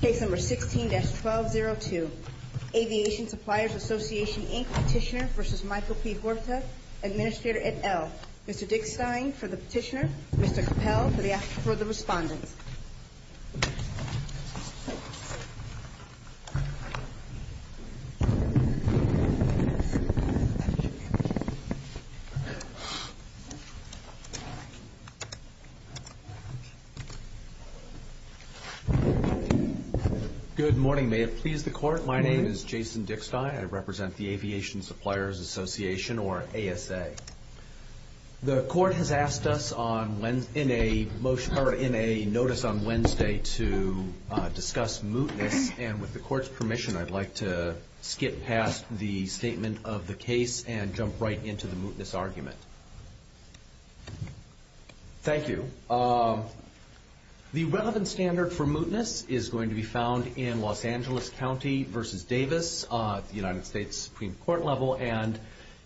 Case number 16-1202. Aviation Suppliers Association, Inc. Petitioner v. Michael P. Huerta, Administrator at ELLE. Mr. Dick Stein for the petitioner, Mr. Capel for the respondent. Good morning. May it please the court. My name is Jason Dick Stein. I represent the Aviation Suppliers Association, or ASA. The court has asked us in a notice on Wednesday to discuss mootness, and with the court's permission I'd like to skip past the statement of the case and jump right into the mootness argument. Thank you. The relevant standard for mootness is going to be found in Los Angeles County v. Davis at the United States Supreme Court level, and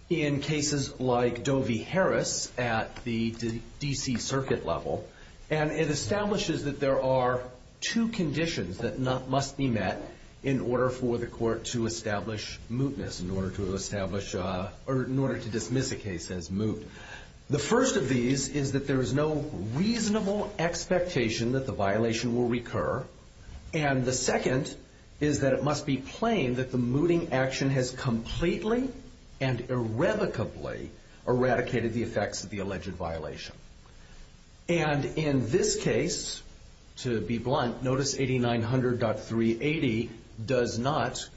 in cases like Dovey-Harris at the D.C. Circuit level. And it establishes that there are two conditions that must be met in order for the court to establish mootness, or in order to dismiss a case as moot. The first of these is that there is no reasonable expectation that the violation will recur. And the second is that it must be plain that the mooting action has completely and irrevocably eradicated the effects of the alleged violation. And in this case, to be blunt, Notice 8900.380 does not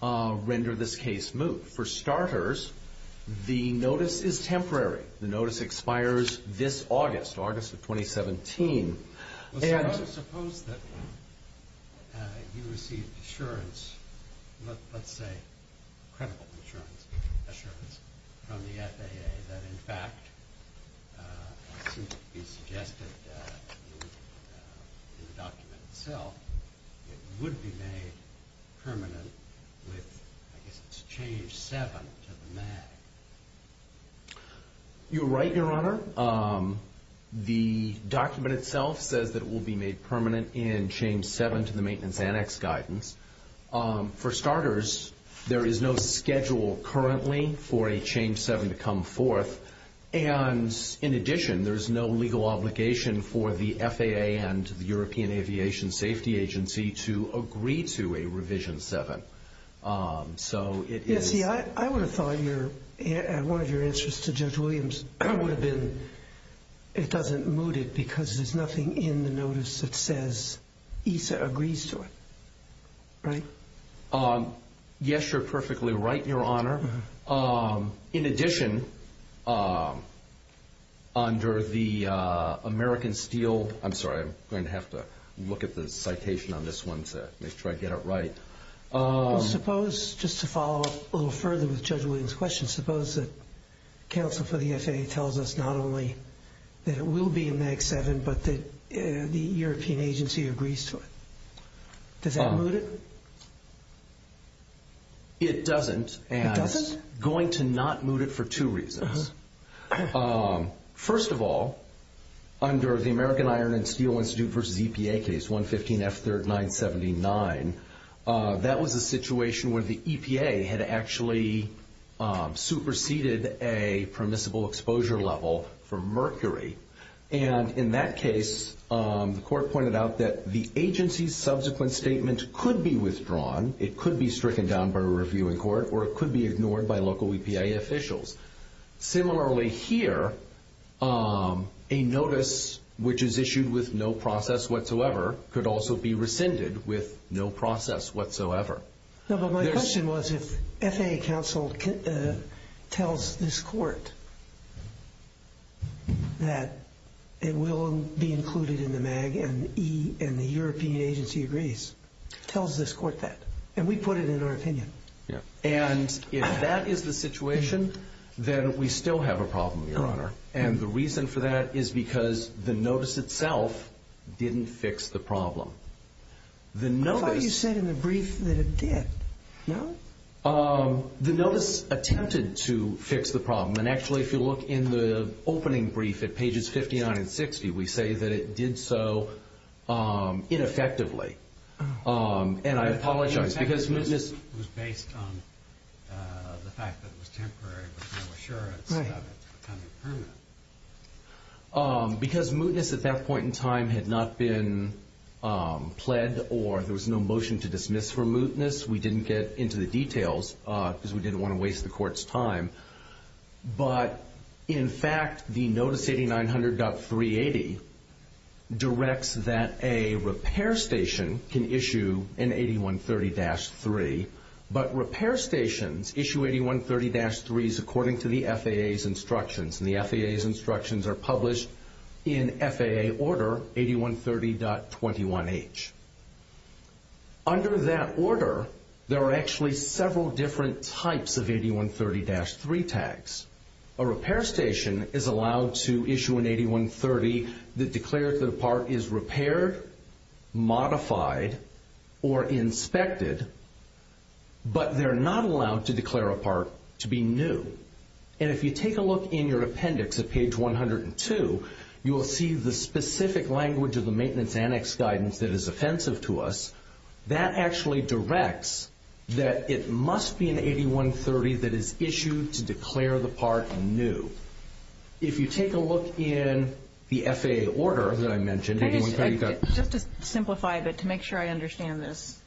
render this case moot. For starters, the notice is temporary. The notice expires this August, August of 2017. I would suppose that you received assurance, let's say credible assurance from the FAA that in fact, it seems to be suggested in the document itself, it would be made permanent with, I guess it's a change 7 to the MAG. You're right, Your Honor. The document itself says that it will be made permanent in change 7 to the maintenance annex guidance. For starters, there is no schedule currently for a change 7 to come forth. And in addition, there is no legal obligation for the FAA and the European Aviation Safety Agency to agree to a revision 7. See, I would have thought one of your answers to Judge Williams would have been, it doesn't moot it because there's nothing in the notice that says ESA agrees to it. Right? Yes, you're perfectly right, Your Honor. In addition, under the American Steel, I'm sorry, I'm going to have to look at the citation on this one to make sure I get it right. Suppose, just to follow up a little further with Judge Williams' question, suppose that counsel for the FAA tells us not only that it will be in MAG 7, but that the European Agency agrees to it. Does that moot it? It doesn't, and it's going to not moot it for two reasons. First of all, under the American Iron and Steel Institute v. EPA case 115F3979, that was a situation where the EPA had actually superseded a permissible exposure level for mercury. And in that case, the court pointed out that the agency's subsequent statement could be withdrawn, it could be stricken down by a review in court, or it could be ignored by local EPA officials. Similarly here, a notice which is issued with no process whatsoever could also be rescinded with no process whatsoever. No, but my question was if FAA counsel tells this court that it will be included in the MAG and the European Agency agrees, tells this court that? And we put it in our opinion. And if that is the situation, then we still have a problem, Your Honor. And the reason for that is because the notice itself didn't fix the problem. I thought you said in the brief that it did. No? The notice attempted to fix the problem. And actually, if you look in the opening brief at pages 59 and 60, we say that it did so ineffectively. And I apologize. It was based on the fact that it was temporary with no assurance of it becoming permanent. Because mootness at that point in time had not been pled or there was no motion to dismiss for mootness, we didn't get into the details because we didn't want to waste the court's time. But in fact, the notice 8900.380 directs that a repair station can issue an 8130-3, but repair stations issue 8130-3s according to the FAA's instructions. And the FAA's instructions are published in FAA order 8130.21H. Under that order, there are actually several different types of 8130-3 tags. A repair station is allowed to issue an 8130 that declared that a part is repaired, modified, or inspected, but they're not allowed to declare a part to be new. And if you take a look in your appendix at page 102, you will see the specific language of the maintenance annex guidance that is offensive to us. That actually directs that it must be an 8130 that is issued to declare the part new. If you take a look in the FAA order that I mentioned, 8130-3. Just to simplify a bit to make sure I understand this,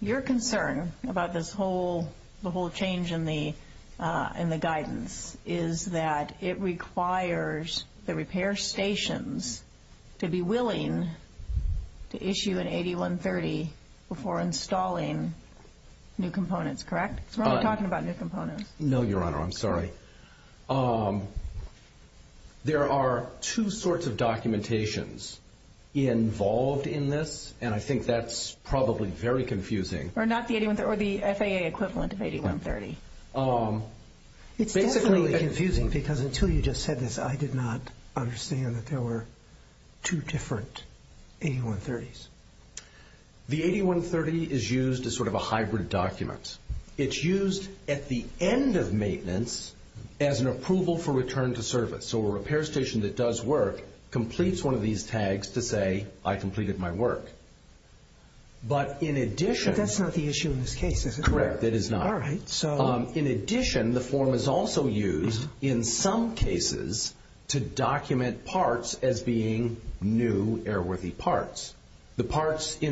your concern about this whole change in the guidance is that it requires the repair stations to be willing to issue an 8130 before installing new components, correct? We're only talking about new components. No, Your Honor, I'm sorry. There are two sorts of documentations involved in this, and I think that's probably very confusing. Or not the 8130, or the FAA equivalent of 8130. It's definitely confusing because until you just said this, I did not understand that there were two different 8130s. The 8130 is used as sort of a hybrid document. It's used at the end of maintenance as an approval for return to service. So a repair station that does work completes one of these tags to say, I completed my work. But in addition... But that's not the issue in this case, is it? Correct, it is not. All right, so... The parts in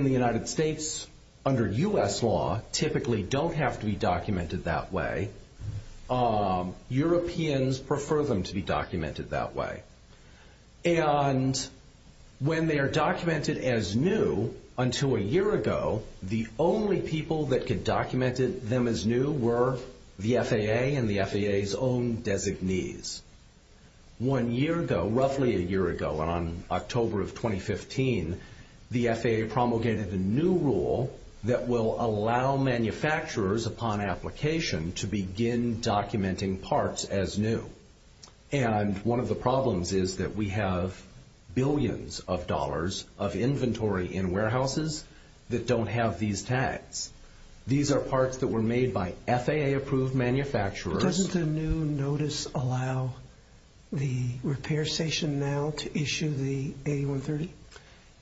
the United States under U.S. law typically don't have to be documented that way. Europeans prefer them to be documented that way. And when they are documented as new, until a year ago, the only people that could document them as new were the FAA and the FAA's own designees. One year ago, roughly a year ago, on October of 2015, the FAA promulgated a new rule that will allow manufacturers upon application to begin documenting parts as new. And one of the problems is that we have billions of dollars of inventory in warehouses that don't have these tags. These are parts that were made by FAA-approved manufacturers. But doesn't the new notice allow the repair station now to issue the 8130?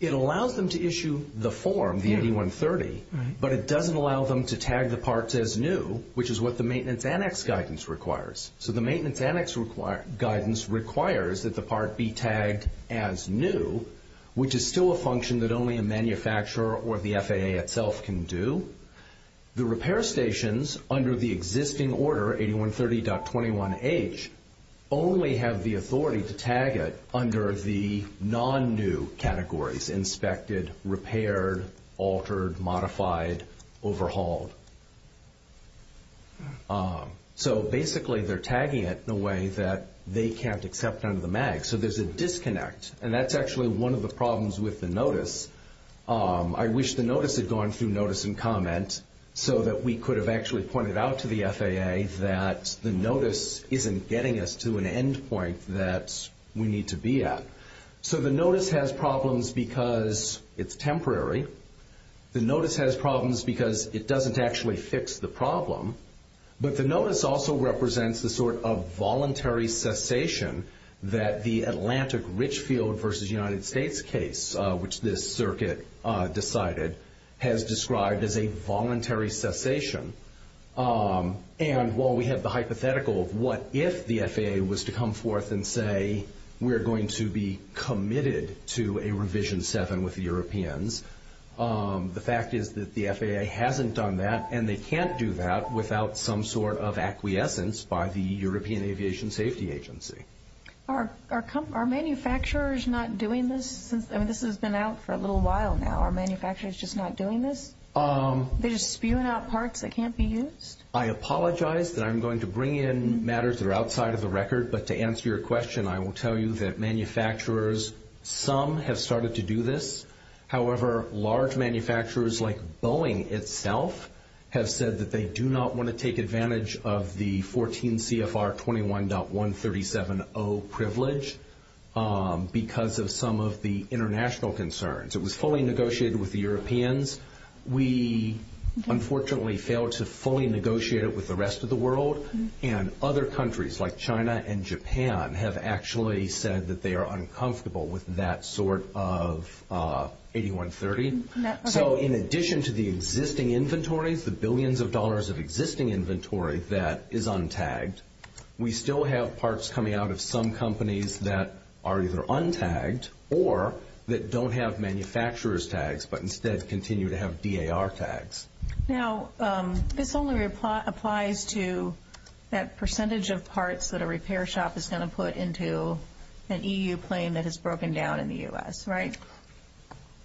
It allows them to issue the form, the 8130, but it doesn't allow them to tag the parts as new, which is what the maintenance annex guidance requires. So the maintenance annex guidance requires that the part be tagged as new, which is still a function that only a manufacturer or the FAA itself can do. The repair stations under the existing order, 8130.21H, only have the authority to tag it under the non-new categories, inspected, repaired, altered, modified, overhauled. So basically, they're tagging it in a way that they can't accept under the MAG. So there's a disconnect, and that's actually one of the problems with the notice. I wish the notice had gone through notice and comment so that we could have actually pointed out to the FAA that the notice isn't getting us to an end point that we need to be at. So the notice has problems because it's temporary. The notice has problems because it doesn't actually fix the problem. But the notice also represents the sort of voluntary cessation that the Atlantic Richfield versus United States case, which this circuit decided, has described as a voluntary cessation. And while we have the hypothetical of what if the FAA was to come forth and say, we're going to be committed to a revision 7 with the Europeans, the fact is that the FAA hasn't done that, and they can't do that without some sort of acquiescence by the European Aviation Safety Agency. Are manufacturers not doing this? I mean, this has been out for a little while now. Are manufacturers just not doing this? They're just spewing out parts that can't be used? I apologize that I'm going to bring in matters that are outside of the record. But to answer your question, I will tell you that manufacturers, some, have started to do this. However, large manufacturers like Boeing itself have said that they do not want to take advantage of the 14 CFR 21.1370 privilege because of some of the international concerns. It was fully negotiated with the Europeans. We, unfortunately, failed to fully negotiate it with the rest of the world. And other countries like China and Japan have actually said that they are uncomfortable with that sort of 81.30. So in addition to the existing inventories, the billions of dollars of existing inventory that is untagged, we still have parts coming out of some companies that are either untagged or that don't have manufacturer's tags but instead continue to have DAR tags. Now, this only applies to that percentage of parts that a repair shop is going to put into an EU plane that is broken down in the U.S., right?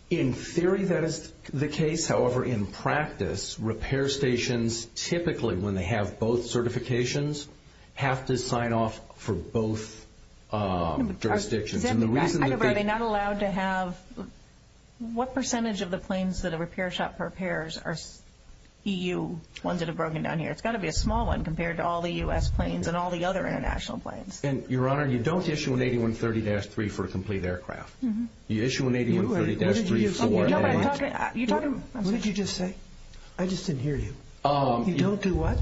In theory, that is the case. However, in practice, repair stations typically, when they have both certifications, have to sign off for both jurisdictions. What percentage of the planes that a repair shop prepares are EU ones that have broken down here? It's got to be a small one compared to all the U.S. planes and all the other international planes. Your Honor, you don't issue an 81.30-3 for a complete aircraft. You issue an 81.30-3 for a... What did you just say? I just didn't hear you. You don't do what?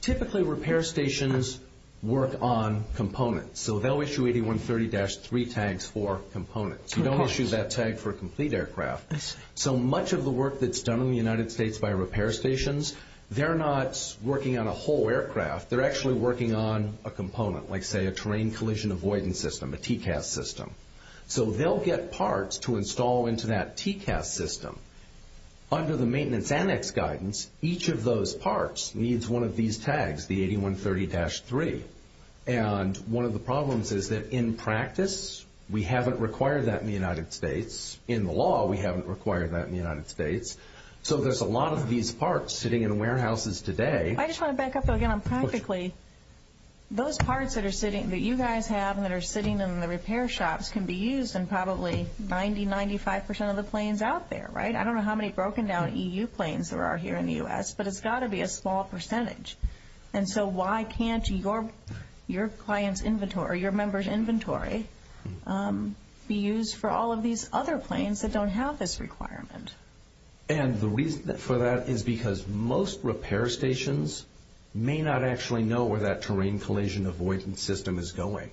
Typically, repair stations work on components. So they'll issue 81.30-3 tags for components. You don't issue that tag for a complete aircraft. I see. So much of the work that's done in the United States by repair stations, they're not working on a whole aircraft. They're actually working on a component, like, say, a terrain collision avoidance system, a TCAS system. So they'll get parts to install into that TCAS system. Under the maintenance annex guidance, each of those parts needs one of these tags, the 81.30-3. And one of the problems is that, in practice, we haven't required that in the United States. In the law, we haven't required that in the United States. So there's a lot of these parts sitting in warehouses today. I just want to back up again on practically. Those parts that you guys have and that are sitting in the repair shops can be used in probably 90%, 95% of the planes out there, right? I don't know how many broken-down E.U. planes there are here in the U.S., but it's got to be a small percentage. And so why can't your client's inventory or your member's inventory be used for all of these other planes that don't have this requirement? And the reason for that is because most repair stations may not actually know where that terrain collision avoidance system is going.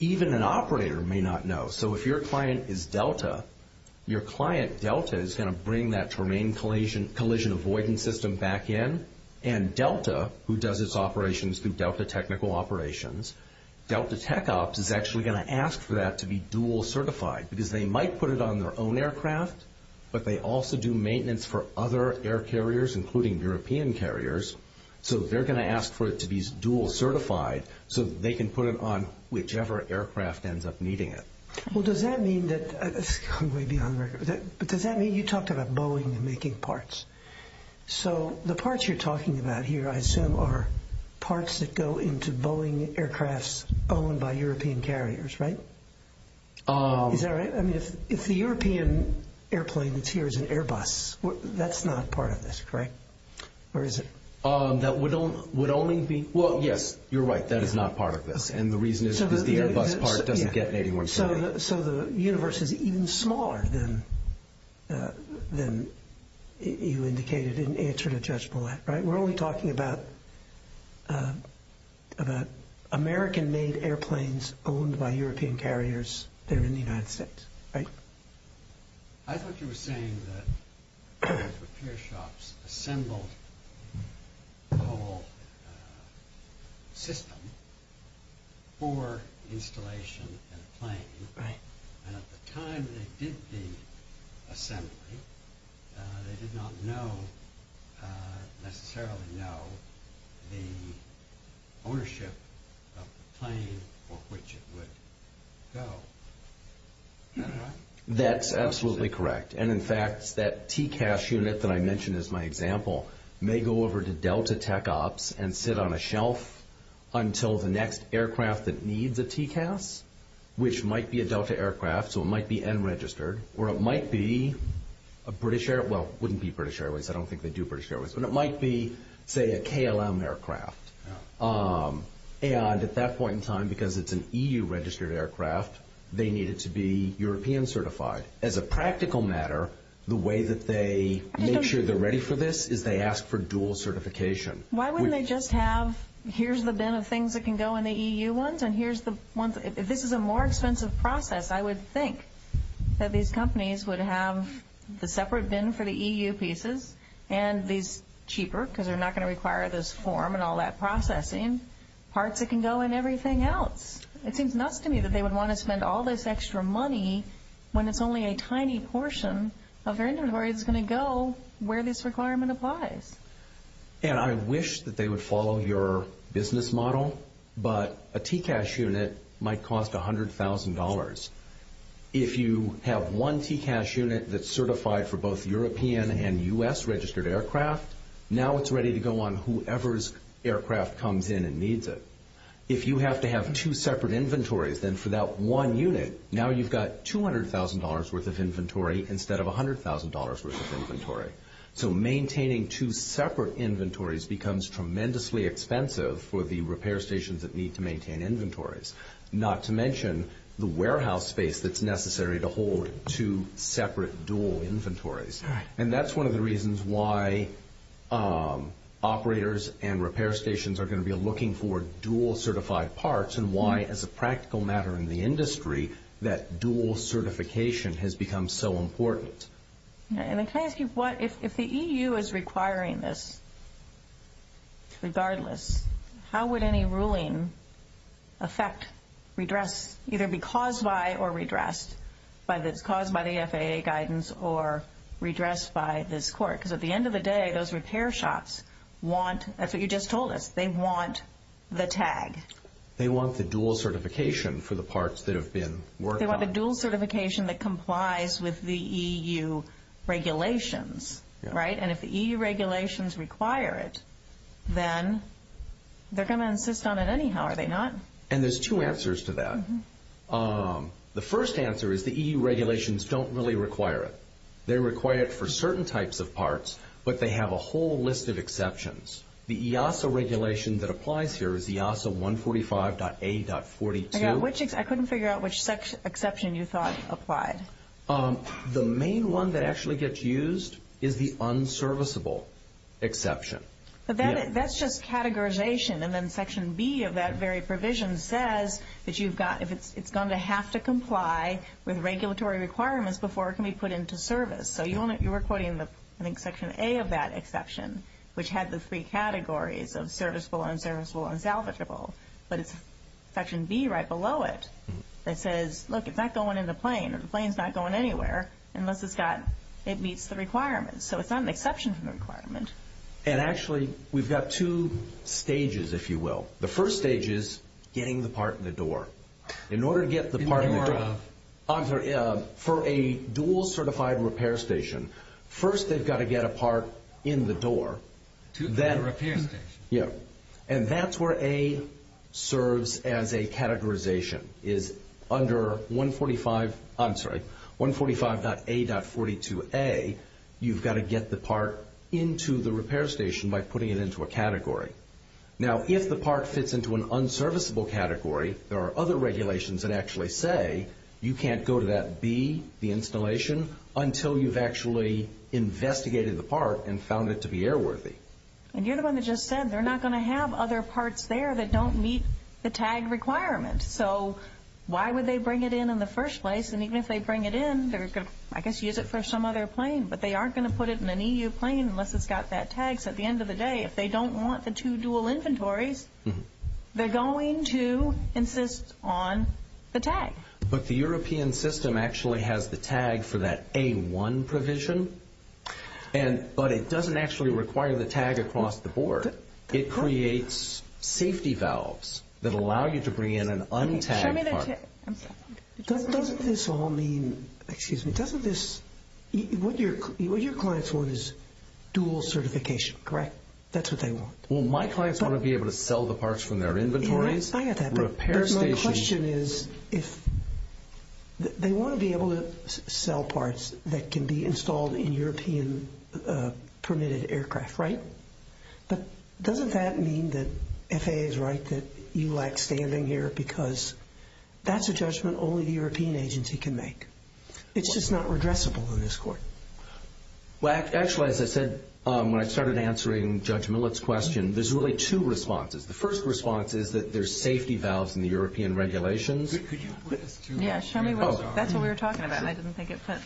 Even an operator may not know. So if your client is Delta, your client Delta is going to bring that terrain collision avoidance system back in. And Delta, who does its operations through Delta Technical Operations, Delta Tech Ops is actually going to ask for that to be dual-certified because they might put it on their own aircraft, but they also do maintenance for other air carriers, including European carriers. So they're going to ask for it to be dual-certified so that they can put it on whichever aircraft ends up needing it. Well, does that mean that – let's go way beyond – but does that mean – you talked about Boeing and making parts. So the parts you're talking about here, I assume, are parts that go into Boeing aircrafts owned by European carriers, right? Is that right? I mean, if the European airplane that's here is an Airbus, that's not part of this, correct? Or is it? That would only be – well, yes, you're right. That is not part of this. And the reason is because the Airbus part doesn't get anyone's company. So the universe is even smaller than you indicated in answer to Judge Boulat, right? We're only talking about American-made airplanes owned by European carriers there in the United States, right? I thought you were saying that those repair shops assembled the whole system for installation in a plane. Right. And at the time they did the assembly, they did not necessarily know the ownership of the plane for which it would go. That's absolutely correct. And, in fact, that TCAS unit that I mentioned as my example may go over to Delta Tech Ops and sit on a shelf until the next aircraft that needs a TCAS, which might be a Delta aircraft, so it might be unregistered, or it might be a British – well, it wouldn't be British Airways. I don't think they do British Airways. But it might be, say, a KLM aircraft. And at that point in time, because it's an EU-registered aircraft, they need it to be European-certified. As a practical matter, the way that they make sure they're ready for this is they ask for dual certification. Why wouldn't they just have, here's the bin of things that can go in the EU ones and here's the ones – if this is a more expensive process, I would think that these companies would have the separate bin for the EU pieces and these cheaper, because they're not going to require this form and all that processing, parts that can go in everything else. It seems nuts to me that they would want to spend all this extra money when it's only a tiny portion of their inventory that's going to go where this requirement applies. And I wish that they would follow your business model, but a TCAS unit might cost $100,000. If you have one TCAS unit that's certified for both European and US-registered aircraft, now it's ready to go on whoever's aircraft comes in and needs it. If you have to have two separate inventories, then for that one unit, now you've got $200,000 worth of inventory instead of $100,000 worth of inventory. So maintaining two separate inventories becomes tremendously expensive for the repair stations that need to maintain inventories. Not to mention the warehouse space that's necessary to hold two separate dual inventories. And that's one of the reasons why operators and repair stations are going to be looking for dual certified parts and why, as a practical matter in the industry, that dual certification has become so important. Can I ask you, if the EU is requiring this, regardless, how would any ruling affect, redress, either be caused by or redressed, whether it's caused by the FAA guidance or redressed by this court? Because at the end of the day, those repair shops want, that's what you just told us, they want the tag. They want the dual certification for the parts that have been worked on. They want the dual certification that complies with the EU regulations, right? And if the EU regulations require it, then they're going to insist on it anyhow, are they not? And there's two answers to that. The first answer is the EU regulations don't really require it. They require it for certain types of parts, but they have a whole list of exceptions. The EASA regulation that applies here is EASA 145.A.42. I couldn't figure out which exception you thought applied. The main one that actually gets used is the unserviceable exception. But that's just categorization. And then Section B of that very provision says that it's going to have to comply with regulatory requirements before it can be put into service. So you were quoting, I think, Section A of that exception, which had the three categories of serviceable, unserviceable, and salvageable. But it's Section B right below it that says, look, it's not going in the plane. The plane's not going anywhere unless it meets the requirements. So it's not an exception from the requirement. And actually, we've got two stages, if you will. The first stage is getting the part in the door. In order to get the part in the door, for a dual-certified repair station, first they've got to get a part in the door. To the repair station. Yeah. And that's where A serves as a categorization, is under 145.A.42A, you've got to get the part into the repair station by putting it into a category. Now, if the part fits into an unserviceable category, there are other regulations that actually say you can't go to that B, the installation, until you've actually investigated the part and found it to be airworthy. And you're the one that just said they're not going to have other parts there that don't meet the tag requirement. So why would they bring it in in the first place? And even if they bring it in, they're going to, I guess, use it for some other plane. But they aren't going to put it in an EU plane unless it's got that tag. So at the end of the day, if they don't want the two dual inventories, they're going to insist on the tag. But the European system actually has the tag for that A1 provision, but it doesn't actually require the tag across the board. It creates safety valves that allow you to bring in an untagged part. Doesn't this all mean, excuse me, doesn't this, what your clients want is dual certification, correct? That's what they want. Well, my clients want to be able to sell the parts from their inventories. I get that, but my question is if they want to be able to sell parts that can be installed in European permitted aircraft, right? But doesn't that mean that FAA is right that you lack standing here because that's a judgment only the European agency can make? It's just not redressable in this court. Well, actually, as I said when I started answering Judge Millett's question, there's really two responses. The first response is that there's safety valves in the European regulations. That's what we were talking about, and I didn't think it fit.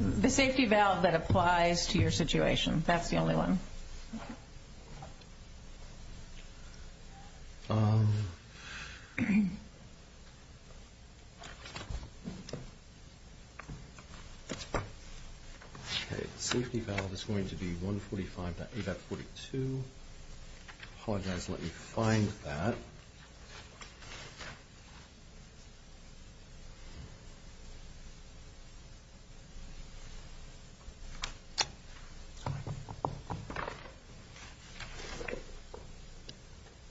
The safety valve that applies to your situation, that's the only one. Okay. The safety valve is going to be 145.EVAP42. Apologize, let me find that.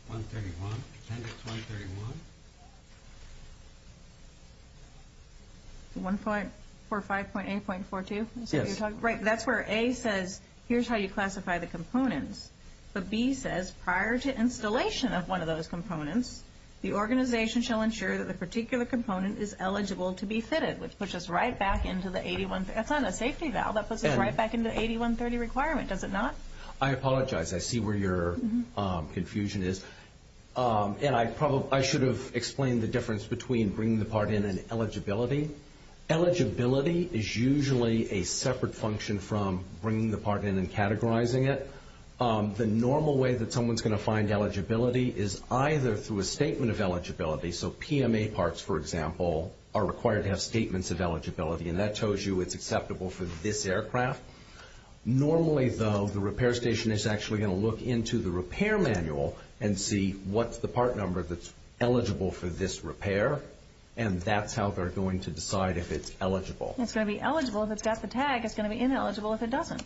131, appendix 131. 145.A.42? Yes. Right, that's where A says here's how you classify the components, but B says prior to installation of one of those components, the organization shall ensure that the particular component is eligible to be fitted, which puts us right back into the 8130. That's not a safety valve. That puts us right back into the 8130 requirement, does it not? I apologize. I see where your confusion is, and I should have explained the difference between bringing the part in and eligibility. Eligibility is usually a separate function from bringing the part in and categorizing it. The normal way that someone's going to find eligibility is either through a statement of eligibility, so PMA parts, for example, are required to have statements of eligibility, and that tells you it's acceptable for this aircraft. Normally, though, the repair station is actually going to look into the repair manual and see what's the part number that's eligible for this repair, and that's how they're going to decide if it's eligible. It's going to be eligible if it's got the tag. It's going to be ineligible if it doesn't.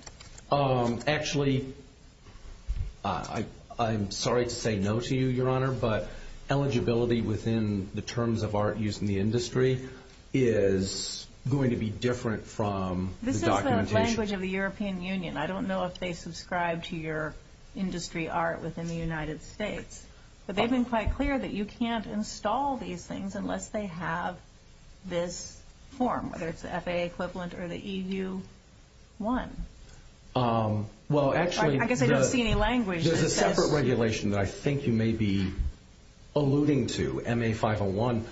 Actually, I'm sorry to say no to you, Your Honor, but eligibility within the terms of art used in the industry is going to be different from the documentation. This is the language of the European Union. I don't know if they subscribe to your industry art within the United States, but they've been quite clear that you can't install these things unless they have this form, whether it's the FAA equivalent or the EU one. I guess I don't see any language. There's a separate regulation that I think you may be alluding to, MA501,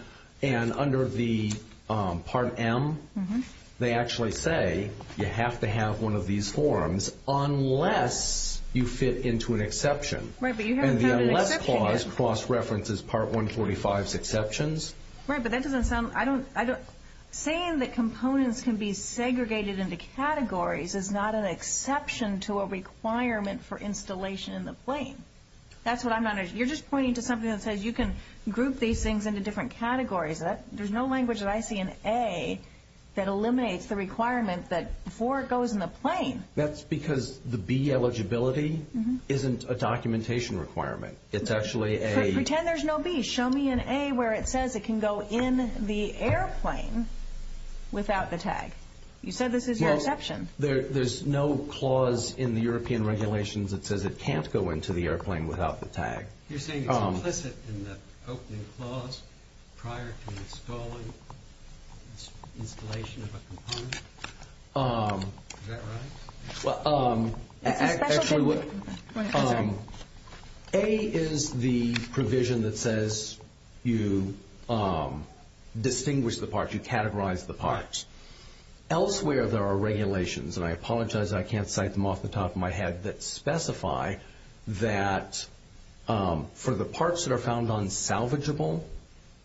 and under the Part M, they actually say you have to have one of these forms unless you fit into an exception. Right, but you haven't found an exception yet. And the unless clause cross-references Part 145's exceptions. Right, but that doesn't sound – saying that components can be segregated into categories is not an exception to a requirement for installation in the plane. That's what I'm not – you're just pointing to something that says you can group these things into different categories. There's no language that I see in A that eliminates the requirement that before it goes in the plane. That's because the B eligibility isn't a documentation requirement. It's actually a – Pretend there's no B. Show me an A where it says it can go in the airplane without the tag. You said this is your exception. There's no clause in the European regulations that says it can't go into the airplane without the tag. You're saying it's implicit in the opening clause prior to installing, installation of a component. Is that right? Well, actually what – It's a special thing. Right, I'm sorry. A is the provision that says you distinguish the parts, you categorize the parts. Elsewhere there are regulations, and I apologize I can't cite them off the top of my head, that specify that for the parts that are found unsalvageable,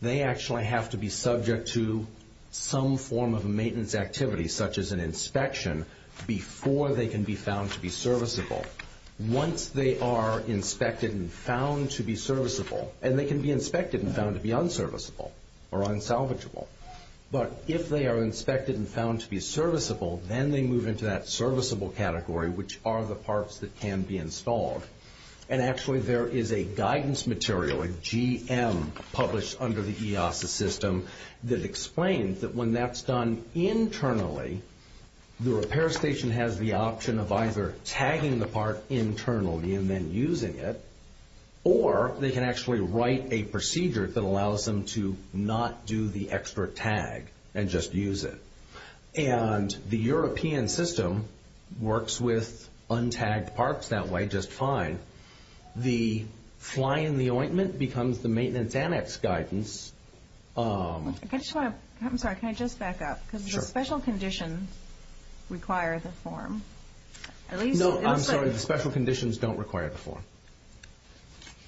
they actually have to be subject to some form of a maintenance activity such as an inspection before they can be found to be serviceable. Once they are inspected and found to be serviceable, and they can be inspected and found to be unserviceable or unsalvageable, but if they are inspected and found to be serviceable, then they move into that serviceable category, which are the parts that can be installed. And actually there is a guidance material, a GM published under the EASA system, that explains that when that's done internally, the repair station has the option of either tagging the part internally and then using it, or they can actually write a procedure that allows them to not do the extra tag and just use it. And the European system works with untagged parts that way just fine. The fly in the ointment becomes the maintenance annex guidance. I'm sorry, can I just back up? Because the special conditions require the form. No, I'm sorry, the special conditions don't require the form.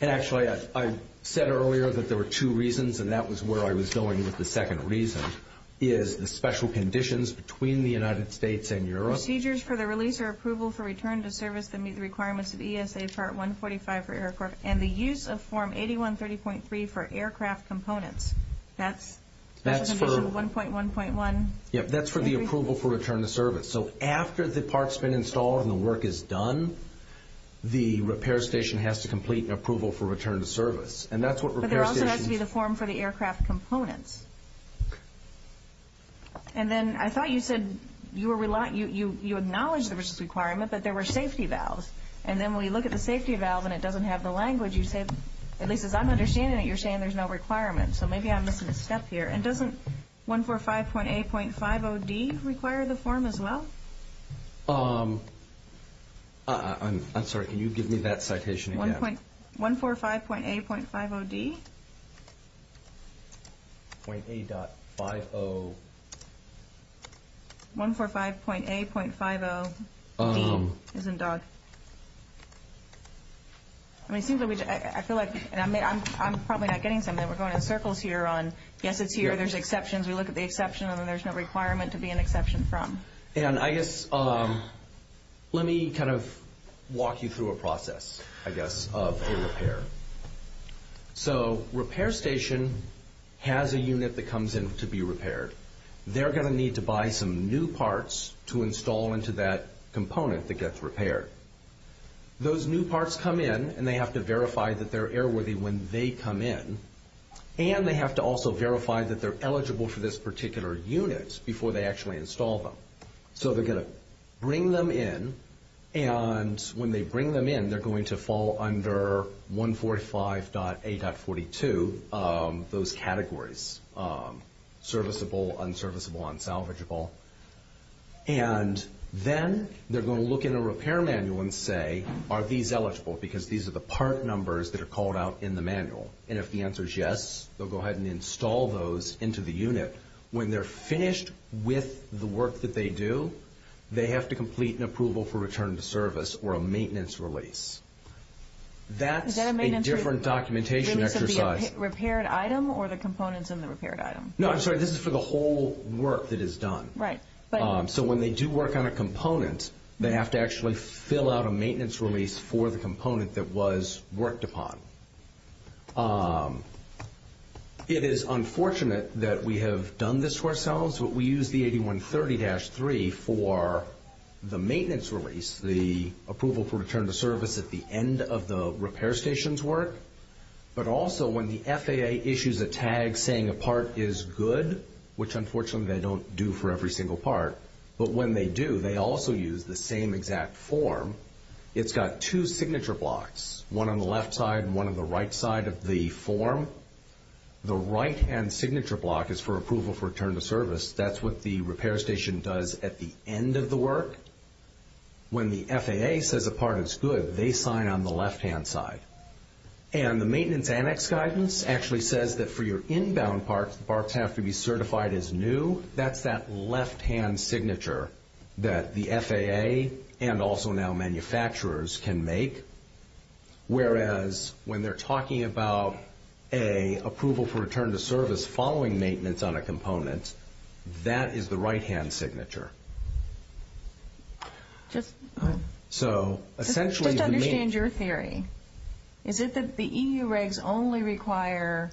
And actually I said earlier that there were two reasons, and that was where I was going with the second reason, which is the special conditions between the United States and Europe. Procedures for the release or approval for return to service that meet the requirements of EASA Part 145 for aircraft and the use of Form 8130.3 for aircraft components. That's for 1.1.1? Yes, that's for the approval for return to service. So after the part's been installed and the work is done, the repair station has to complete an approval for return to service. But there also has to be the form for the aircraft components. And then I thought you said you acknowledge the requirement, but there were safety valves. And then when you look at the safety valve and it doesn't have the language, at least as I'm understanding it, you're saying there's no requirement. So maybe I'm missing a step here. And doesn't 145.8.5OD require the form as well? I'm sorry, can you give me that citation again? 145.8.5OD? 145.8.5OD. It's in DOG. I feel like I'm probably not getting something. We're going in circles here on, yes, it's here, there's exceptions. We look at the exception, and then there's no requirement to be an exception from. And I guess let me kind of walk you through a process, I guess, of a repair. So repair station has a unit that comes in to be repaired. They're going to need to buy some new parts to install into that component that gets repaired. Those new parts come in and they have to verify that they're airworthy when they come in, and they have to also verify that they're eligible for this particular unit before they actually install them. So they're going to bring them in, and when they bring them in, they're going to fall under 145.8.42, those categories, serviceable, unserviceable, unsalvageable. And then they're going to look in a repair manual and say, are these eligible? Because these are the part numbers that are called out in the manual. And if the answer is yes, they'll go ahead and install those into the unit. When they're finished with the work that they do, they have to complete an approval for return to service or a maintenance release. That's a different documentation exercise. Is that a maintenance release of the repaired item or the components in the repaired item? No, I'm sorry, this is for the whole work that is done. Right. So when they do work on a component, they have to actually fill out a maintenance release for the component that was worked upon. It is unfortunate that we have done this to ourselves, but we use the 8130-3 for the maintenance release, the approval for return to service at the end of the repair station's work. But also when the FAA issues a tag saying a part is good, which unfortunately they don't do for every single part, but when they do, they also use the same exact form. It's got two signature blocks, one on the left side and one on the right side of the form. The right-hand signature block is for approval for return to service. That's what the repair station does at the end of the work. When the FAA says a part is good, they sign on the left-hand side. And the maintenance annex guidance actually says that for your inbound parts, the parts have to be certified as new. That's that left-hand signature that the FAA and also now manufacturers can make, whereas when they're talking about an approval for return to service following maintenance on a component, that is the right-hand signature. So essentially the main— Just to understand your theory, is it that the EU regs only require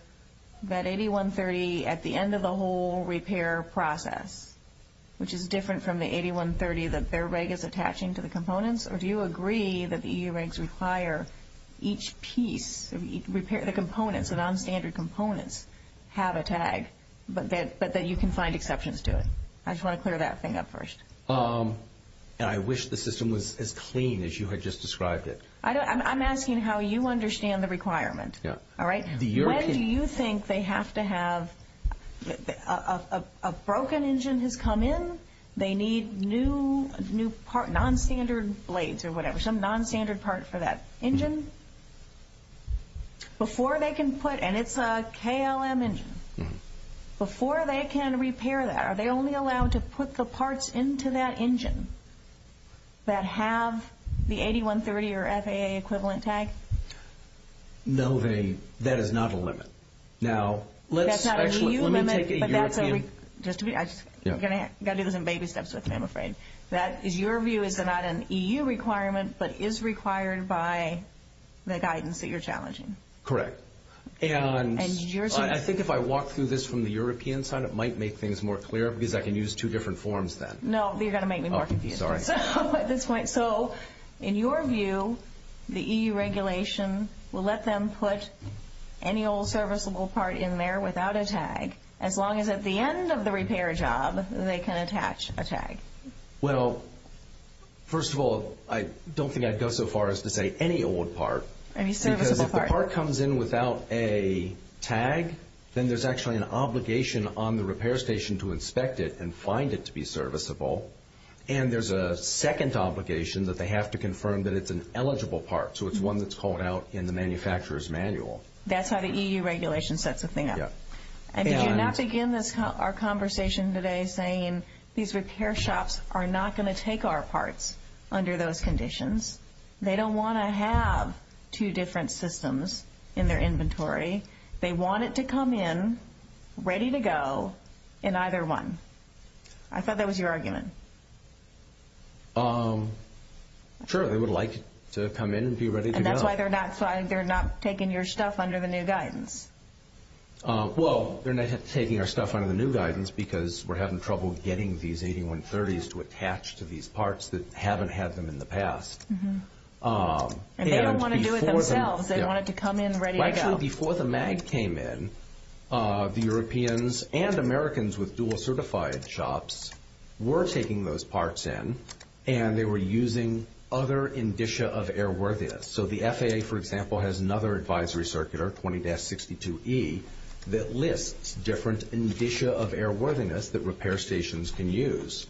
that 8130 at the end of the whole repair process, which is different from the 8130 that their reg is attaching to the components, or do you agree that the EU regs require each piece, the components, the nonstandard components have a tag but that you can find exceptions to it? I just want to clear that thing up first. I wish the system was as clean as you had just described it. I'm asking how you understand the requirement. All right? When do you think they have to have—a broken engine has come in. They need new nonstandard blades or whatever, some nonstandard part for that engine. Before they can put—and it's a KLM engine. Before they can repair that, are they only allowed to put the parts into that engine that have the 8130 or FAA equivalent tag? No, that is not a limit. That's not an EU limit, but that's a— I've got to do this in baby steps with you, I'm afraid. Your view is that it's not an EU requirement but is required by the guidance that you're challenging? Correct. I think if I walk through this from the European side, it might make things more clear because I can use two different forms then. No, you're going to make me more confused at this point. So in your view, the EU regulation will let them put any old serviceable part in there without a tag as long as at the end of the repair job they can attach a tag? Well, first of all, I don't think I'd go so far as to say any old part. Any serviceable part. Because if the part comes in without a tag, then there's actually an obligation on the repair station to inspect it and find it to be serviceable, and there's a second obligation that they have to confirm that it's an eligible part, so it's one that's called out in the manufacturer's manual. That's how the EU regulation sets the thing up. And did you not begin our conversation today saying these repair shops are not going to take our parts under those conditions? They don't want to have two different systems in their inventory. They want it to come in ready to go in either one. I thought that was your argument. Sure, they would like it to come in and be ready to go. And that's why they're not taking your stuff under the new guidance. Well, they're not taking our stuff under the new guidance because we're having trouble getting these 8130s to attach to these parts that haven't had them in the past. And they don't want to do it themselves. They want it to come in ready to go. Well, actually, before the MAG came in, the Europeans and Americans with dual-certified shops were taking those parts in, and they were using other indicia of airworthiness. So the FAA, for example, has another advisory circular, 20-62E, that lists different indicia of airworthiness that repair stations can use.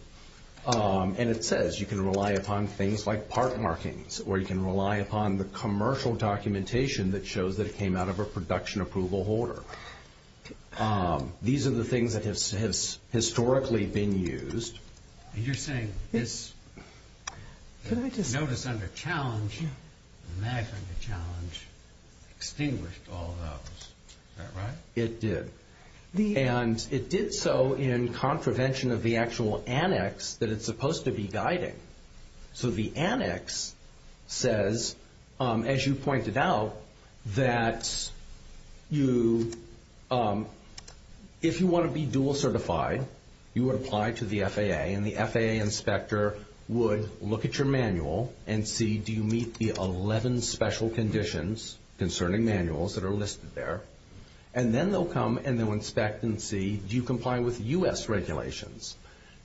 And it says you can rely upon things like part markings, or you can rely upon the commercial documentation that shows that it came out of a production approval holder. These are the things that have historically been used. You're saying this notice under challenge, the MAG under challenge, extinguished all those. Is that right? It did. And it did so in contravention of the actual annex that it's supposed to be guiding. So the annex says, as you pointed out, that if you want to be dual-certified, you would apply to the FAA, and the FAA inspector would look at your manual and see, do you meet the 11 special conditions concerning manuals that are listed there? And then they'll come and they'll inspect and see, do you comply with U.S. regulations?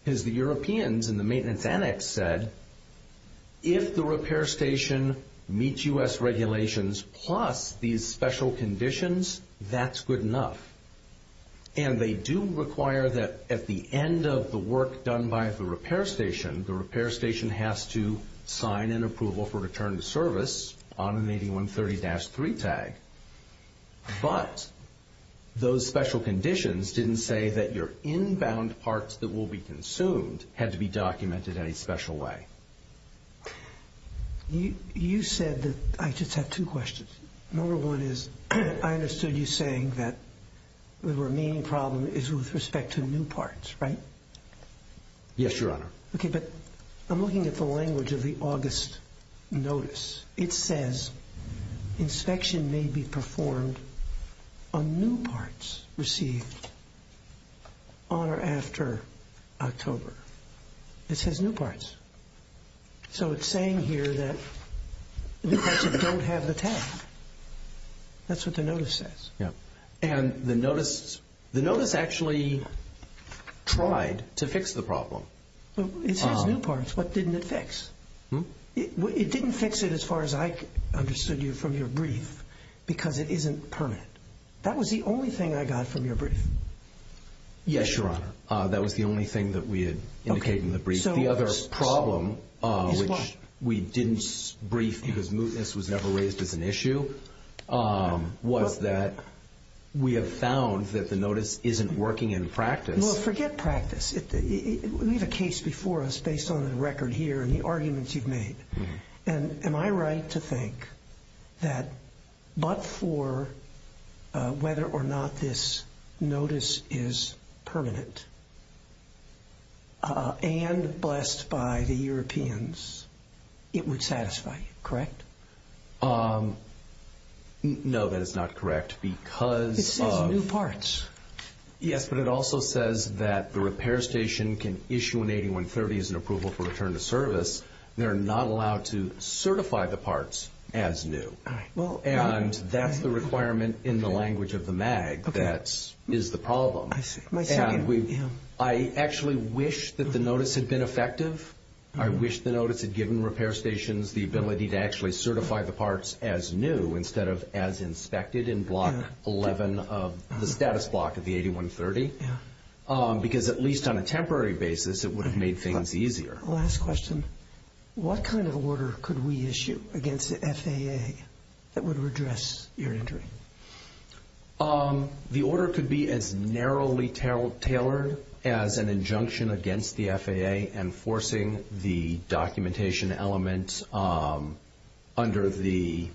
Because the Europeans in the maintenance annex said, if the repair station meets U.S. regulations plus these special conditions, that's good enough. And they do require that at the end of the work done by the repair station, the repair station has to sign an approval for return to service on an 8130-3 tag. But those special conditions didn't say that your inbound parts that will be consumed had to be documented in any special way. You said that – I just have two questions. Number one is, I understood you saying that the remaining problem is with respect to new parts, right? Yes, Your Honor. Okay, but I'm looking at the language of the August notice. It says, inspection may be performed on new parts received on or after October. It says new parts. So it's saying here that the parts that don't have the tag. That's what the notice says. Yeah. And the notice actually tried to fix the problem. It says new parts. What didn't it fix? It didn't fix it as far as I understood you from your brief because it isn't permanent. That was the only thing I got from your brief. Yes, Your Honor. That was the only thing that we had indicated in the brief. The other problem, which we didn't brief because mootness was never raised as an issue, was that we have found that the notice isn't working in practice. Well, forget practice. We have a case before us based on the record here and the arguments you've made. And am I right to think that but for whether or not this notice is permanent and blessed by the Europeans, it would satisfy you, correct? No, that is not correct because of. It says new parts. Yes, but it also says that the repair station can issue an 8130 as an approval for return to service. They're not allowed to certify the parts as new. And that's the requirement in the language of the MAG that is the problem. My second. I actually wish that the notice had been effective. I wish the notice had given repair stations the ability to actually certify the parts as new instead of as inspected in Block 11 of the status block of the 8130 because at least on a temporary basis it would have made things easier. Last question. What kind of order could we issue against the FAA that would redress your injury? The order could be as narrowly tailored as an injunction against the FAA enforcing the documentation element under the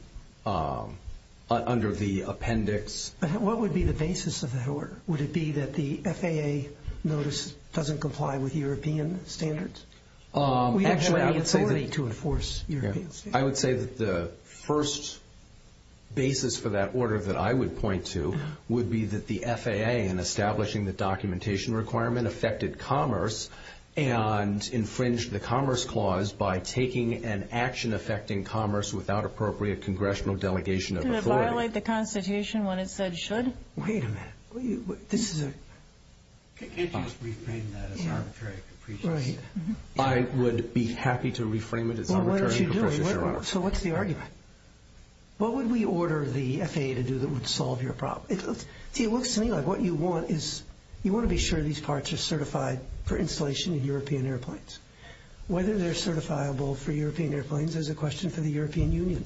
appendix. What would be the basis of that order? Would it be that the FAA notice doesn't comply with European standards? We don't have any authority to enforce European standards. I would say that the first basis for that order that I would point to would be that the FAA in establishing the documentation requirement affected commerce and infringed the commerce clause by taking an action affecting commerce without appropriate congressional delegation of authority. Did it violate the Constitution when it said it should? Wait a minute. Can't you just reframe that as arbitrary capriciousness? I would be happy to reframe it as arbitrary capriciousness, Your Honor. Well, what are you doing? So what's the argument? What would we order the FAA to do that would solve your problem? It looks to me like what you want is you want to be sure these parts are certified for installation in European airplanes. Whether they're certifiable for European airplanes is a question for the European Union,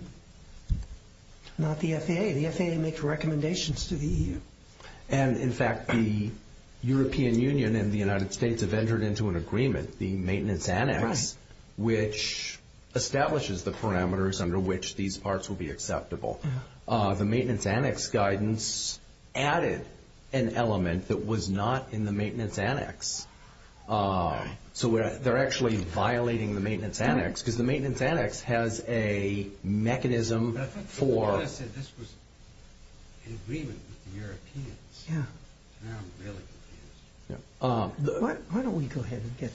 not the FAA. The FAA makes recommendations to the EU. And, in fact, the European Union and the United States have entered into an agreement, the maintenance annex, which establishes the parameters under which these parts will be acceptable. The maintenance annex guidance added an element that was not in the maintenance annex. So they're actually violating the maintenance annex, because the maintenance annex has a mechanism for The FAA said this was an agreement with the Europeans. Now I'm really confused. Why don't we go ahead and get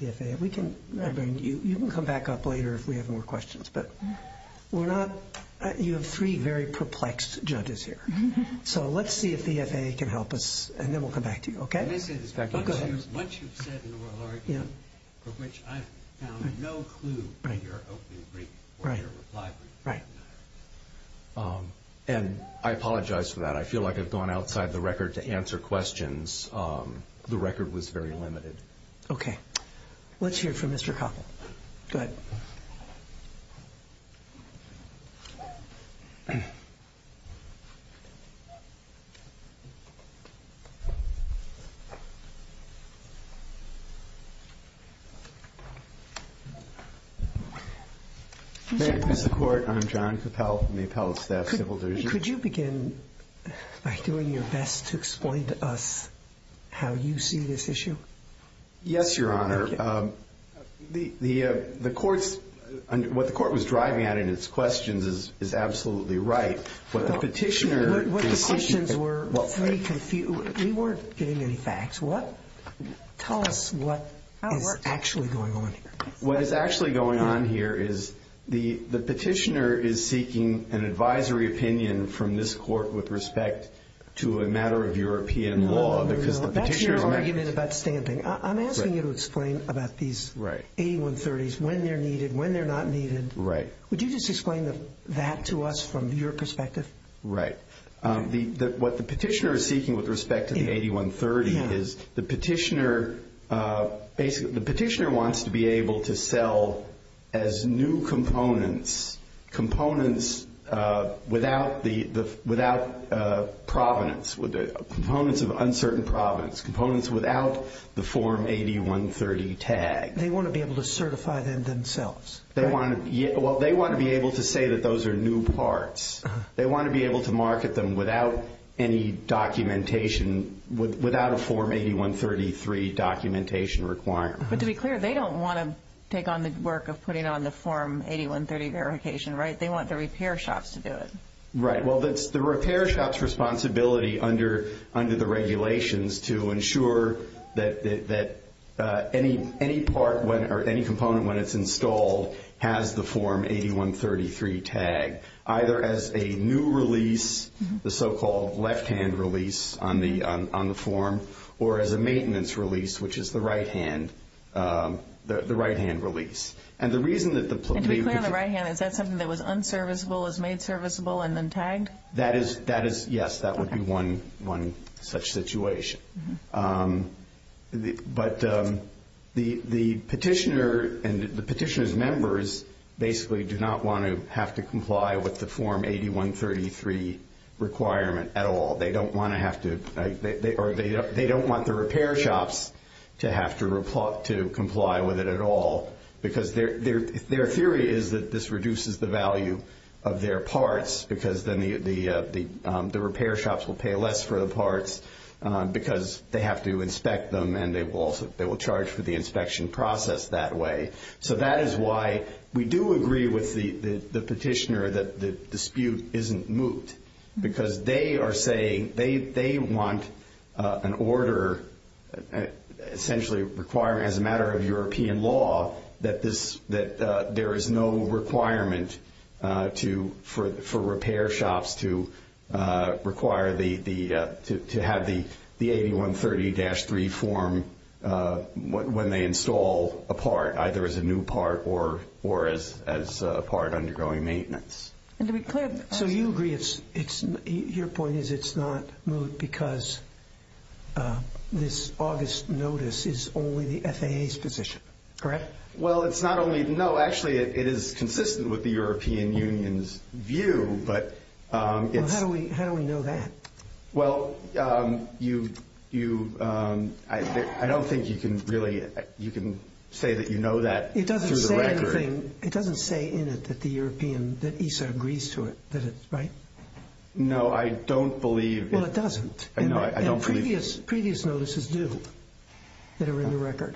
the FAA? You can come back up later if we have more questions. You have three very perplexed judges here. So let's see if the FAA can help us, and then we'll come back to you, okay? Let me say this back to you. Go ahead. What you've said in the oral argument for which I've found no clue in your opening brief or your reply brief. And I apologize for that. I feel like I've gone outside the record to answer questions. The record was very limited. Okay. Let's hear from Mr. Koppel. Go ahead. Thank you, Mr. Court. I'm John Koppel from the Appellate Staff Civil Dersion. Could you begin by doing your best to explain to us how you see this issue? Yes, Your Honor. The court's – what the court was driving at in its questions is absolutely right. What the petitioner – What the questions were – we weren't getting any facts. Tell us what is actually going on here. What is actually going on here is the petitioner is seeking an advisory opinion from this court with respect to a matter of European law. That's your argument about stamping. I'm asking you to explain about these 8130s, when they're needed, when they're not needed. Would you just explain that to us from your perspective? Right. What the petitioner is seeking with respect to the 8130 is the petitioner – basically, the petitioner wants to be able to sell as new components, components without provenance, components of uncertain provenance, components without the Form 8130 tag. They want to be able to certify them themselves. Well, they want to be able to say that those are new parts. They want to be able to market them without any documentation, without a Form 8133 documentation requirement. But to be clear, they don't want to take on the work of putting on the Form 8130 verification, right? They want the repair shops to do it. Right. Well, that's the repair shop's responsibility under the regulations to ensure that any part or any component, when it's installed, has the Form 8133 tag, either as a new release, the so-called left-hand release on the form, or as a maintenance release, which is the right-hand release. And to be clear, on the right-hand, is that something that was unserviceable, is made serviceable, and then tagged? Yes, that would be one such situation. But the petitioner and the petitioner's members basically do not want to have to comply with the Form 8133 requirement at all. They don't want to have to, or they don't want the repair shops to have to comply with it at all, because their theory is that this reduces the value of their parts, because then the repair shops will pay less for the parts, because they have to inspect them, and they will charge for the inspection process that way. So that is why we do agree with the petitioner that the dispute isn't moot, because they are saying they want an order essentially requiring, as a matter of European law, that there is no requirement for repair shops to have the 8130-3 form when they install a part, either as a new part or as a part undergoing maintenance. So you agree your point is it's not moot because this August notice is only the FAA's position, correct? Well, it's not only—no, actually it is consistent with the European Union's view, but it's— Well, how do we know that? Well, you—I don't think you can really—you can say that you know that through the record. It doesn't say in it that the European—that ESA agrees to it, right? No, I don't believe— Well, it doesn't. No, I don't believe— And previous notices do that are in the record,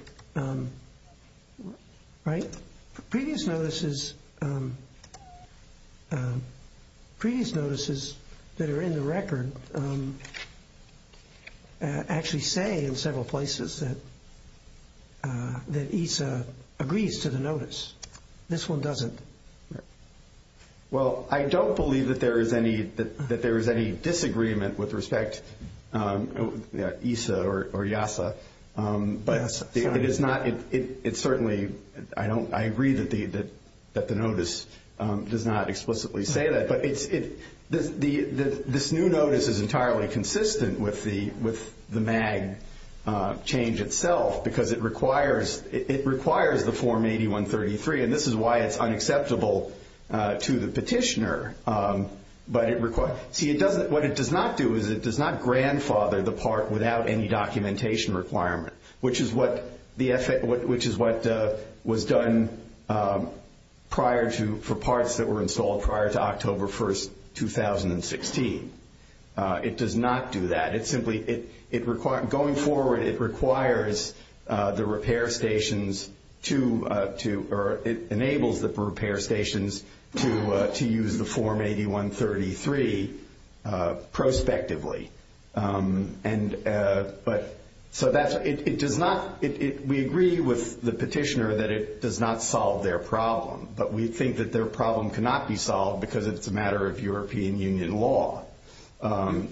right? Previous notices that are in the record actually say in several places that ESA agrees to the notice. This one doesn't. Well, I don't believe that there is any disagreement with respect—ESA or EASA, but it is not— it certainly—I agree that the notice does not explicitly say that, but this new notice is entirely consistent with the MAG change itself because it requires the Form 8133, and this is why it's unacceptable to the petitioner. But it—see, it doesn't—what it does not do is it does not grandfather the part without any documentation requirement, which is what the—which is what was done prior to—for parts that were installed prior to October 1, 2016. It does not do that. Going forward, it requires the repair stations to—or it enables the repair stations to use the Form 8133 prospectively. And—but—so that's—it does not—we agree with the petitioner that it does not solve their problem, but we think that their problem cannot be solved because it's a matter of European Union law.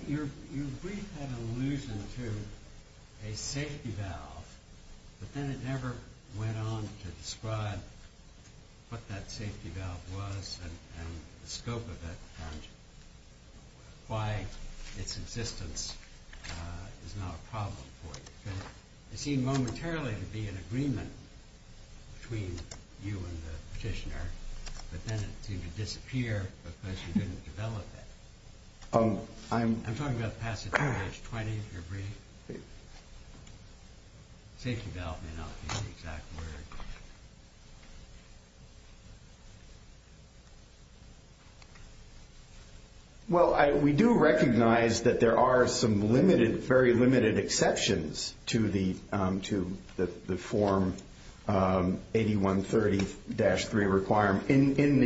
Your brief had an allusion to a safety valve, but then it never went on to describe what that safety valve was and the scope of it and why its existence is not a problem for you. It seemed momentarily to be an agreement between you and the petitioner, but then it seemed to disappear because you didn't develop it. I'm talking about passage of page 20 of your brief. Safety valve may not be the exact word. Well, we do recognize that there are some limited—very limited exceptions to the—to the Form 8133-3 requirement in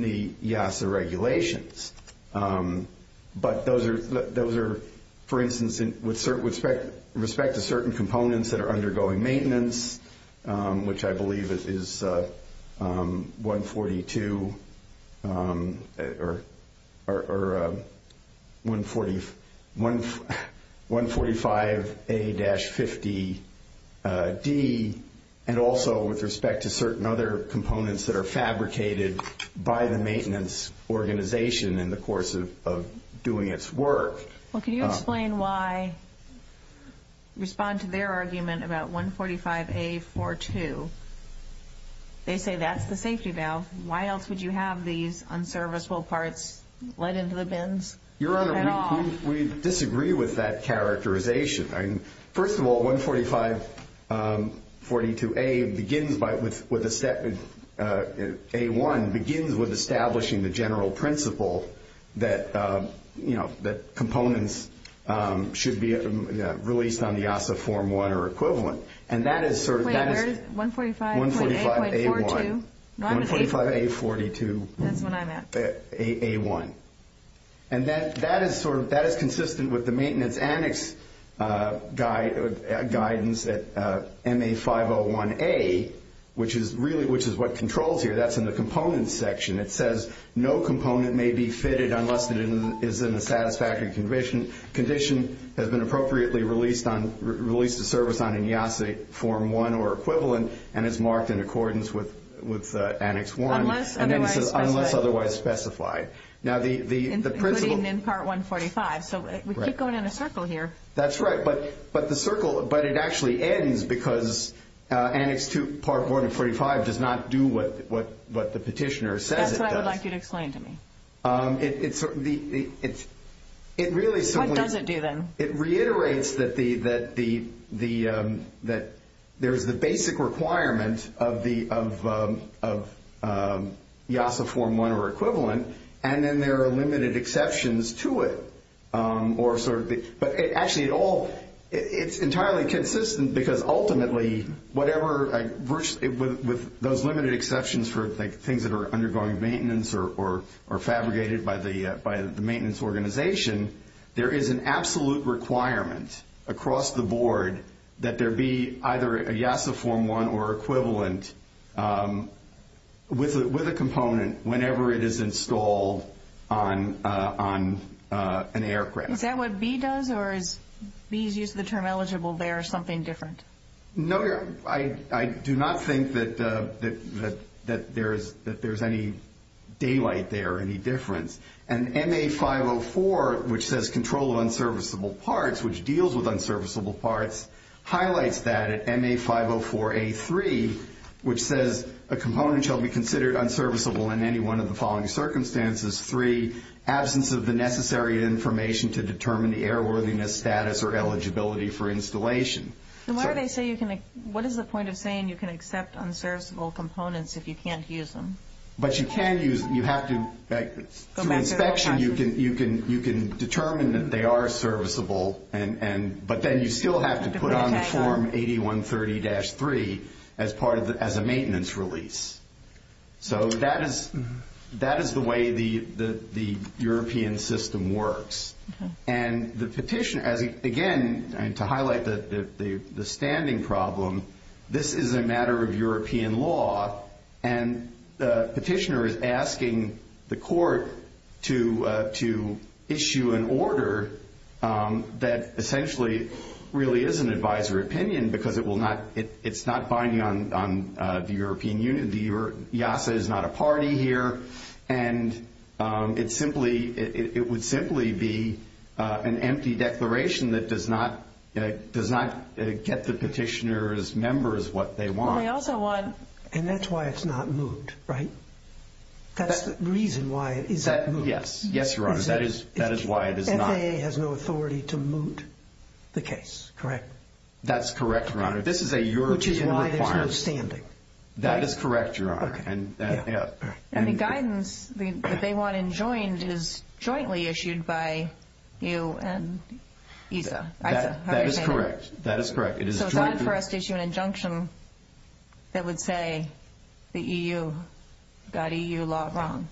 the EASA regulations. But those are—those are, for instance, with respect to certain components that are undergoing maintenance, which I believe is 142 or 145A-50D, and also with respect to certain other components that are fabricated by the maintenance organization in the course of doing its work. Well, can you explain why—respond to their argument about 145A-42? They say that's the safety valve. Why else would you have these unserviceable parts let into the bins at all? Your Honor, we disagree with that characterization. First of all, 145-42A begins by—with a step—A-1 begins with establishing the general principle that, you know, that components should be released on the EASA Form 1 or equivalent. And that is— Wait, where is—145.8.42? 145A-1. No, I'm at A-1. 145A-42. That's when I'm at. A-1. And that is sort of—that is consistent with the maintenance annex guidance at MA-501A, which is really—which is what controls here. That's in the components section. It says no component may be fitted unless it is in a satisfactory condition, has been appropriately released on—released to service on an EASA Form 1 or equivalent, and is marked in accordance with Annex 1. Unless otherwise specified. Unless otherwise specified. Now, the principle— Including in Part 145. So we keep going in a circle here. That's right. But the circle—but it actually ends because Annex 2, Part 145 does not do what the petitioner says it does. That's what I would like you to explain to me. It's—it really simply— What does it do then? It reiterates that the—that there's the basic requirement of the EASA Form 1 or equivalent, and then there are limited exceptions to it. Or sort of the—but actually it all—it's entirely consistent because ultimately whatever—with those limited exceptions for things that are undergoing maintenance or fabricated by the maintenance organization, there is an absolute requirement across the board that there be either a EASA Form 1 or equivalent with a component whenever it is installed on an aircraft. Is that what B does, or is B's use of the term eligible there something different? No, Your—I do not think that there's any daylight there or any difference. And MA 504, which says control of unserviceable parts, which deals with unserviceable parts, highlights that at MA 504A3, which says a component shall be considered unserviceable in any one of the following circumstances. Three, absence of the necessary information to determine the airworthiness, status, or eligibility for installation. And why do they say you can—what is the point of saying you can accept unserviceable components if you can't use them? But you can use—you have to—to inspection, you can determine that they are serviceable, but then you still have to put on the Form 8130-3 as part of the—as a maintenance release. So that is—that is the way the European system works. And the petitioner—again, to highlight the standing problem, this is a matter of European law, and the petitioner is asking the court to issue an order that essentially really is an advisor opinion because it will not—it's not binding on the European Union. The EASA is not a party here, and it simply—it would simply be an empty declaration that does not— does not get the petitioner's members what they want. Well, they also want— And that's why it's not moved, right? That's the reason why it is not moved. Yes. Yes, Your Honor. That is—that is why it is not— FAA has no authority to moot the case, correct? That's correct, Your Honor. This is a European requirement. Which is why there's no standing, right? That is correct, Your Honor. And the guidance that they want enjoined is jointly issued by you and EASA. That is correct. That is correct. So it's not for us to issue an injunction that would say the EU got EU law wrong.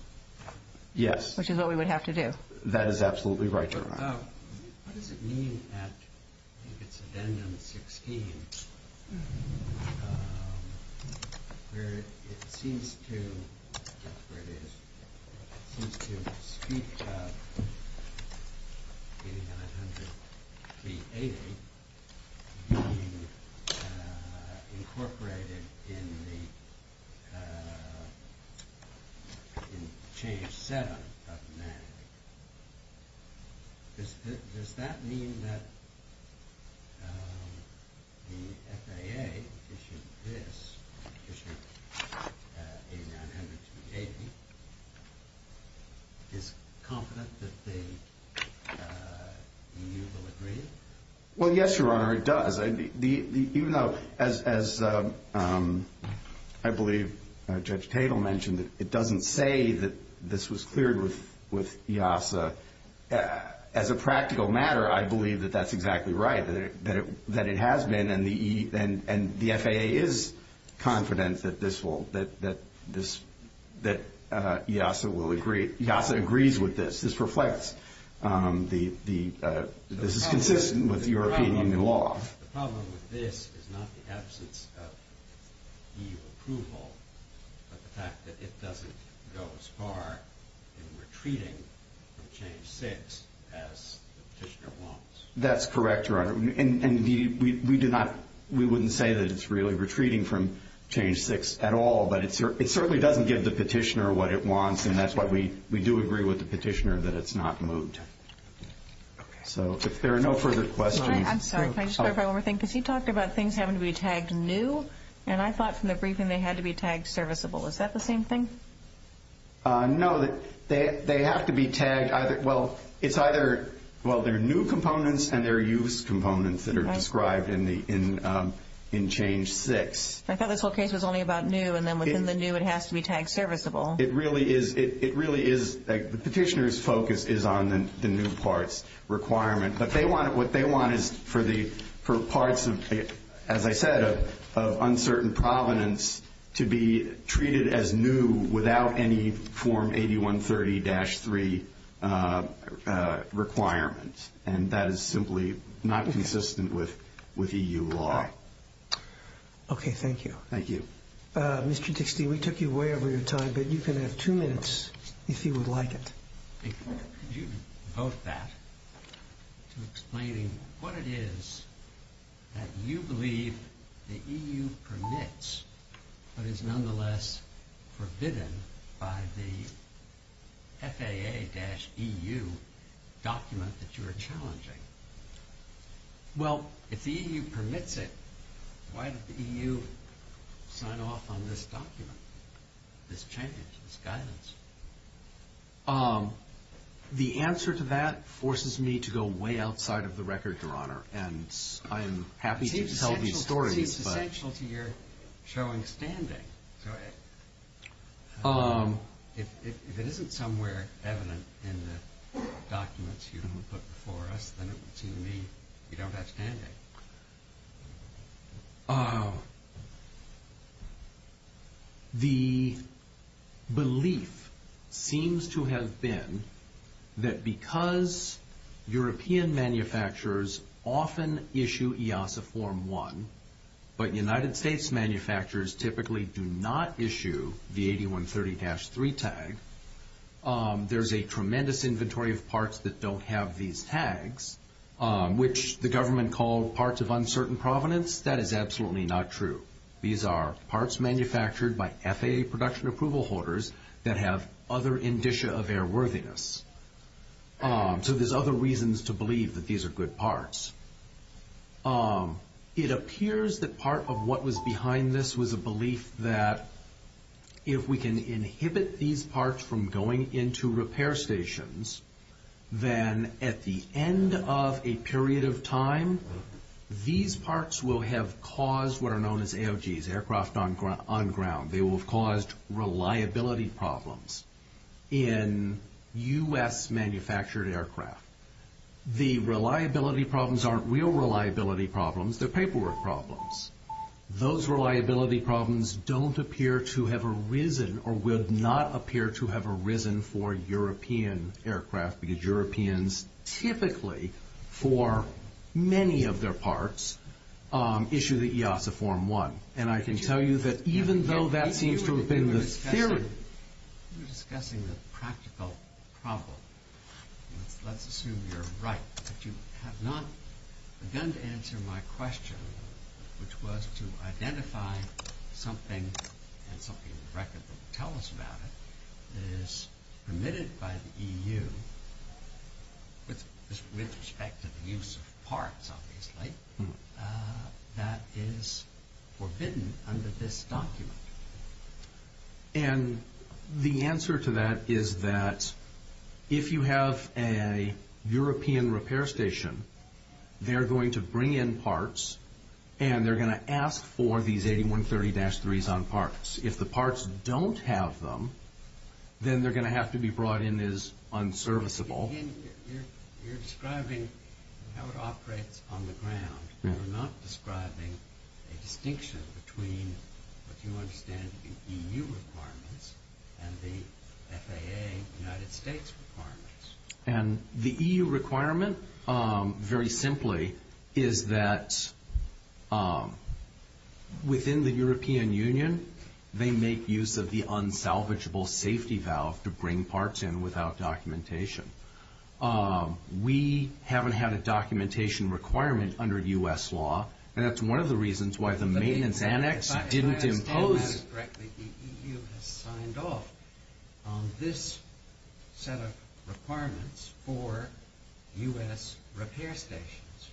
Yes. Which is what we would have to do. That is absolutely right, Your Honor. What does it mean at—I think it's addendum 16, where it seems to—that's where it is— Does that mean that the FAA issued this, issued 8900-280, is confident that the EU will agree? Well, yes, Your Honor, it does. Even though, as I believe Judge Tatel mentioned, it doesn't say that this was cleared with EASA. As a practical matter, I believe that that's exactly right, that it has been, and the FAA is confident that this will—that EASA will agree. EASA agrees with this. This reflects the—this is consistent with European Union law. The problem with this is not the absence of EU approval, but the fact that it doesn't go as far in retreating from change 6 as the petitioner wants. That's correct, Your Honor. And we do not—we wouldn't say that it's really retreating from change 6 at all, but it certainly doesn't give the petitioner what it wants, and that's why we do agree with the petitioner that it's not moved. So if there are no further questions— I'm sorry, can I just clarify one more thing? Because he talked about things having to be tagged new, and I thought from the briefing they had to be tagged serviceable. Is that the same thing? No, they have to be tagged either—well, it's either—well, they're new components and they're used components that are described in change 6. I thought this whole case was only about new, and then within the new it has to be tagged serviceable. It really is—the petitioner's focus is on the new parts requirement, but what they want is for parts, as I said, of uncertain provenance to be treated as new without any Form 8130-3 requirement, and that is simply not consistent with EU law. Thank you. Mr. Dixty, we took you way over your time, but you can have two minutes if you would like it. Could you devote that to explaining what it is that you believe the EU permits but is nonetheless forbidden by the FAA-EU document that you are challenging? Well, if the EU permits it, why did the EU sign off on this document, this change, this guidance? The answer to that forces me to go way outside of the record, Your Honor, and I am happy to tell these stories, but— It seems essential to your showing standing. So if it isn't somewhere evident in the documents you put before us, then it would seem to me you don't have standing. The belief seems to have been that because European manufacturers often issue EASA Form 1, but United States manufacturers typically do not issue the 8130-3 tag, there's a tremendous inventory of parts that don't have these tags, which the government called parts of uncertain provenance. That is absolutely not true. These are parts manufactured by FAA production approval holders that have other indicia of airworthiness. So there's other reasons to believe that these are good parts. It appears that part of what was behind this was a belief that if we can inhibit these parts from going into repair stations, then at the end of a period of time, these parts will have caused what are known as AOGs, aircraft on ground. They will have caused reliability problems in U.S.-manufactured aircraft. The reliability problems aren't real reliability problems. They're paperwork problems. Those reliability problems don't appear to have arisen or would not appear to have arisen for European aircraft because Europeans typically, for many of their parts, issue the EASA Form 1. And I can tell you that even though that seems to have been the theory... You were discussing the practical problem. Let's assume you're right, but you have not begun to answer my question, which was to identify something and something in the record that would tell us about it that is permitted by the EU with respect to the use of parts, obviously, that is forbidden under this document. And the answer to that is that if you have a European repair station, they're going to bring in parts and they're going to ask for these 8130-3s on parts. If the parts don't have them, then they're going to have to be brought in as unserviceable. You're describing how it operates on the ground. You're not describing a distinction between what you understand in EU requirements and the FAA United States requirements. And the EU requirement, very simply, is that within the European Union, they make use of the unsalvageable safety valve to bring parts in without documentation. We haven't had a documentation requirement under U.S. law, and that's one of the reasons why the maintenance annex didn't impose... If I understand this correctly, the EU has signed off on this set of requirements for U.S. repair stations.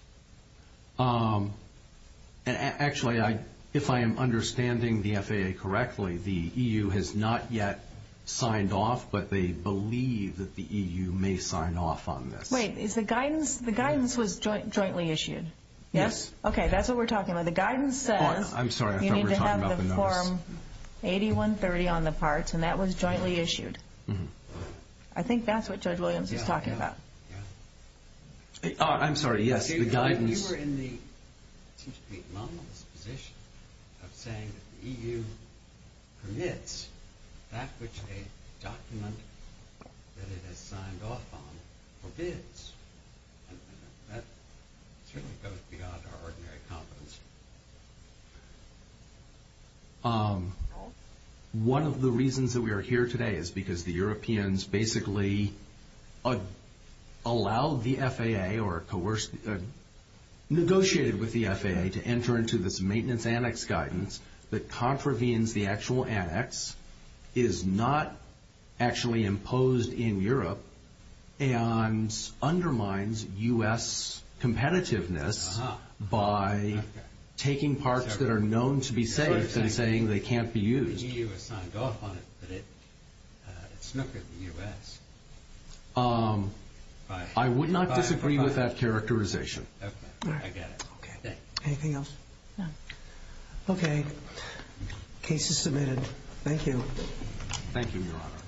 Actually, if I am understanding the FAA correctly, the EU has not yet signed off, but they believe that the EU may sign off on this. Wait, the guidance was jointly issued? Yes. Okay, that's what we're talking about. The guidance says you need to have the form 8130 on the parts, and that was jointly issued. I think that's what Judge Williams was talking about. I'm sorry, yes, the guidance... It seems to be a monolithic position of saying that the EU permits that which a document that it has signed off on forbids. That certainly goes beyond our ordinary competence. One of the reasons that we are here today is because the Europeans basically allowed the FAA or negotiated with the FAA to enter into this maintenance annex guidance that contravenes the actual annex, is not actually imposed in Europe, and undermines U.S. competitiveness by taking parts that are known to be safe and saying they can't be used. The EU has signed off on it, but it snookered the U.S. I would not disagree with that characterization. I get it. Anything else? No. Okay, case is submitted. Thank you. Thank you, Your Honor.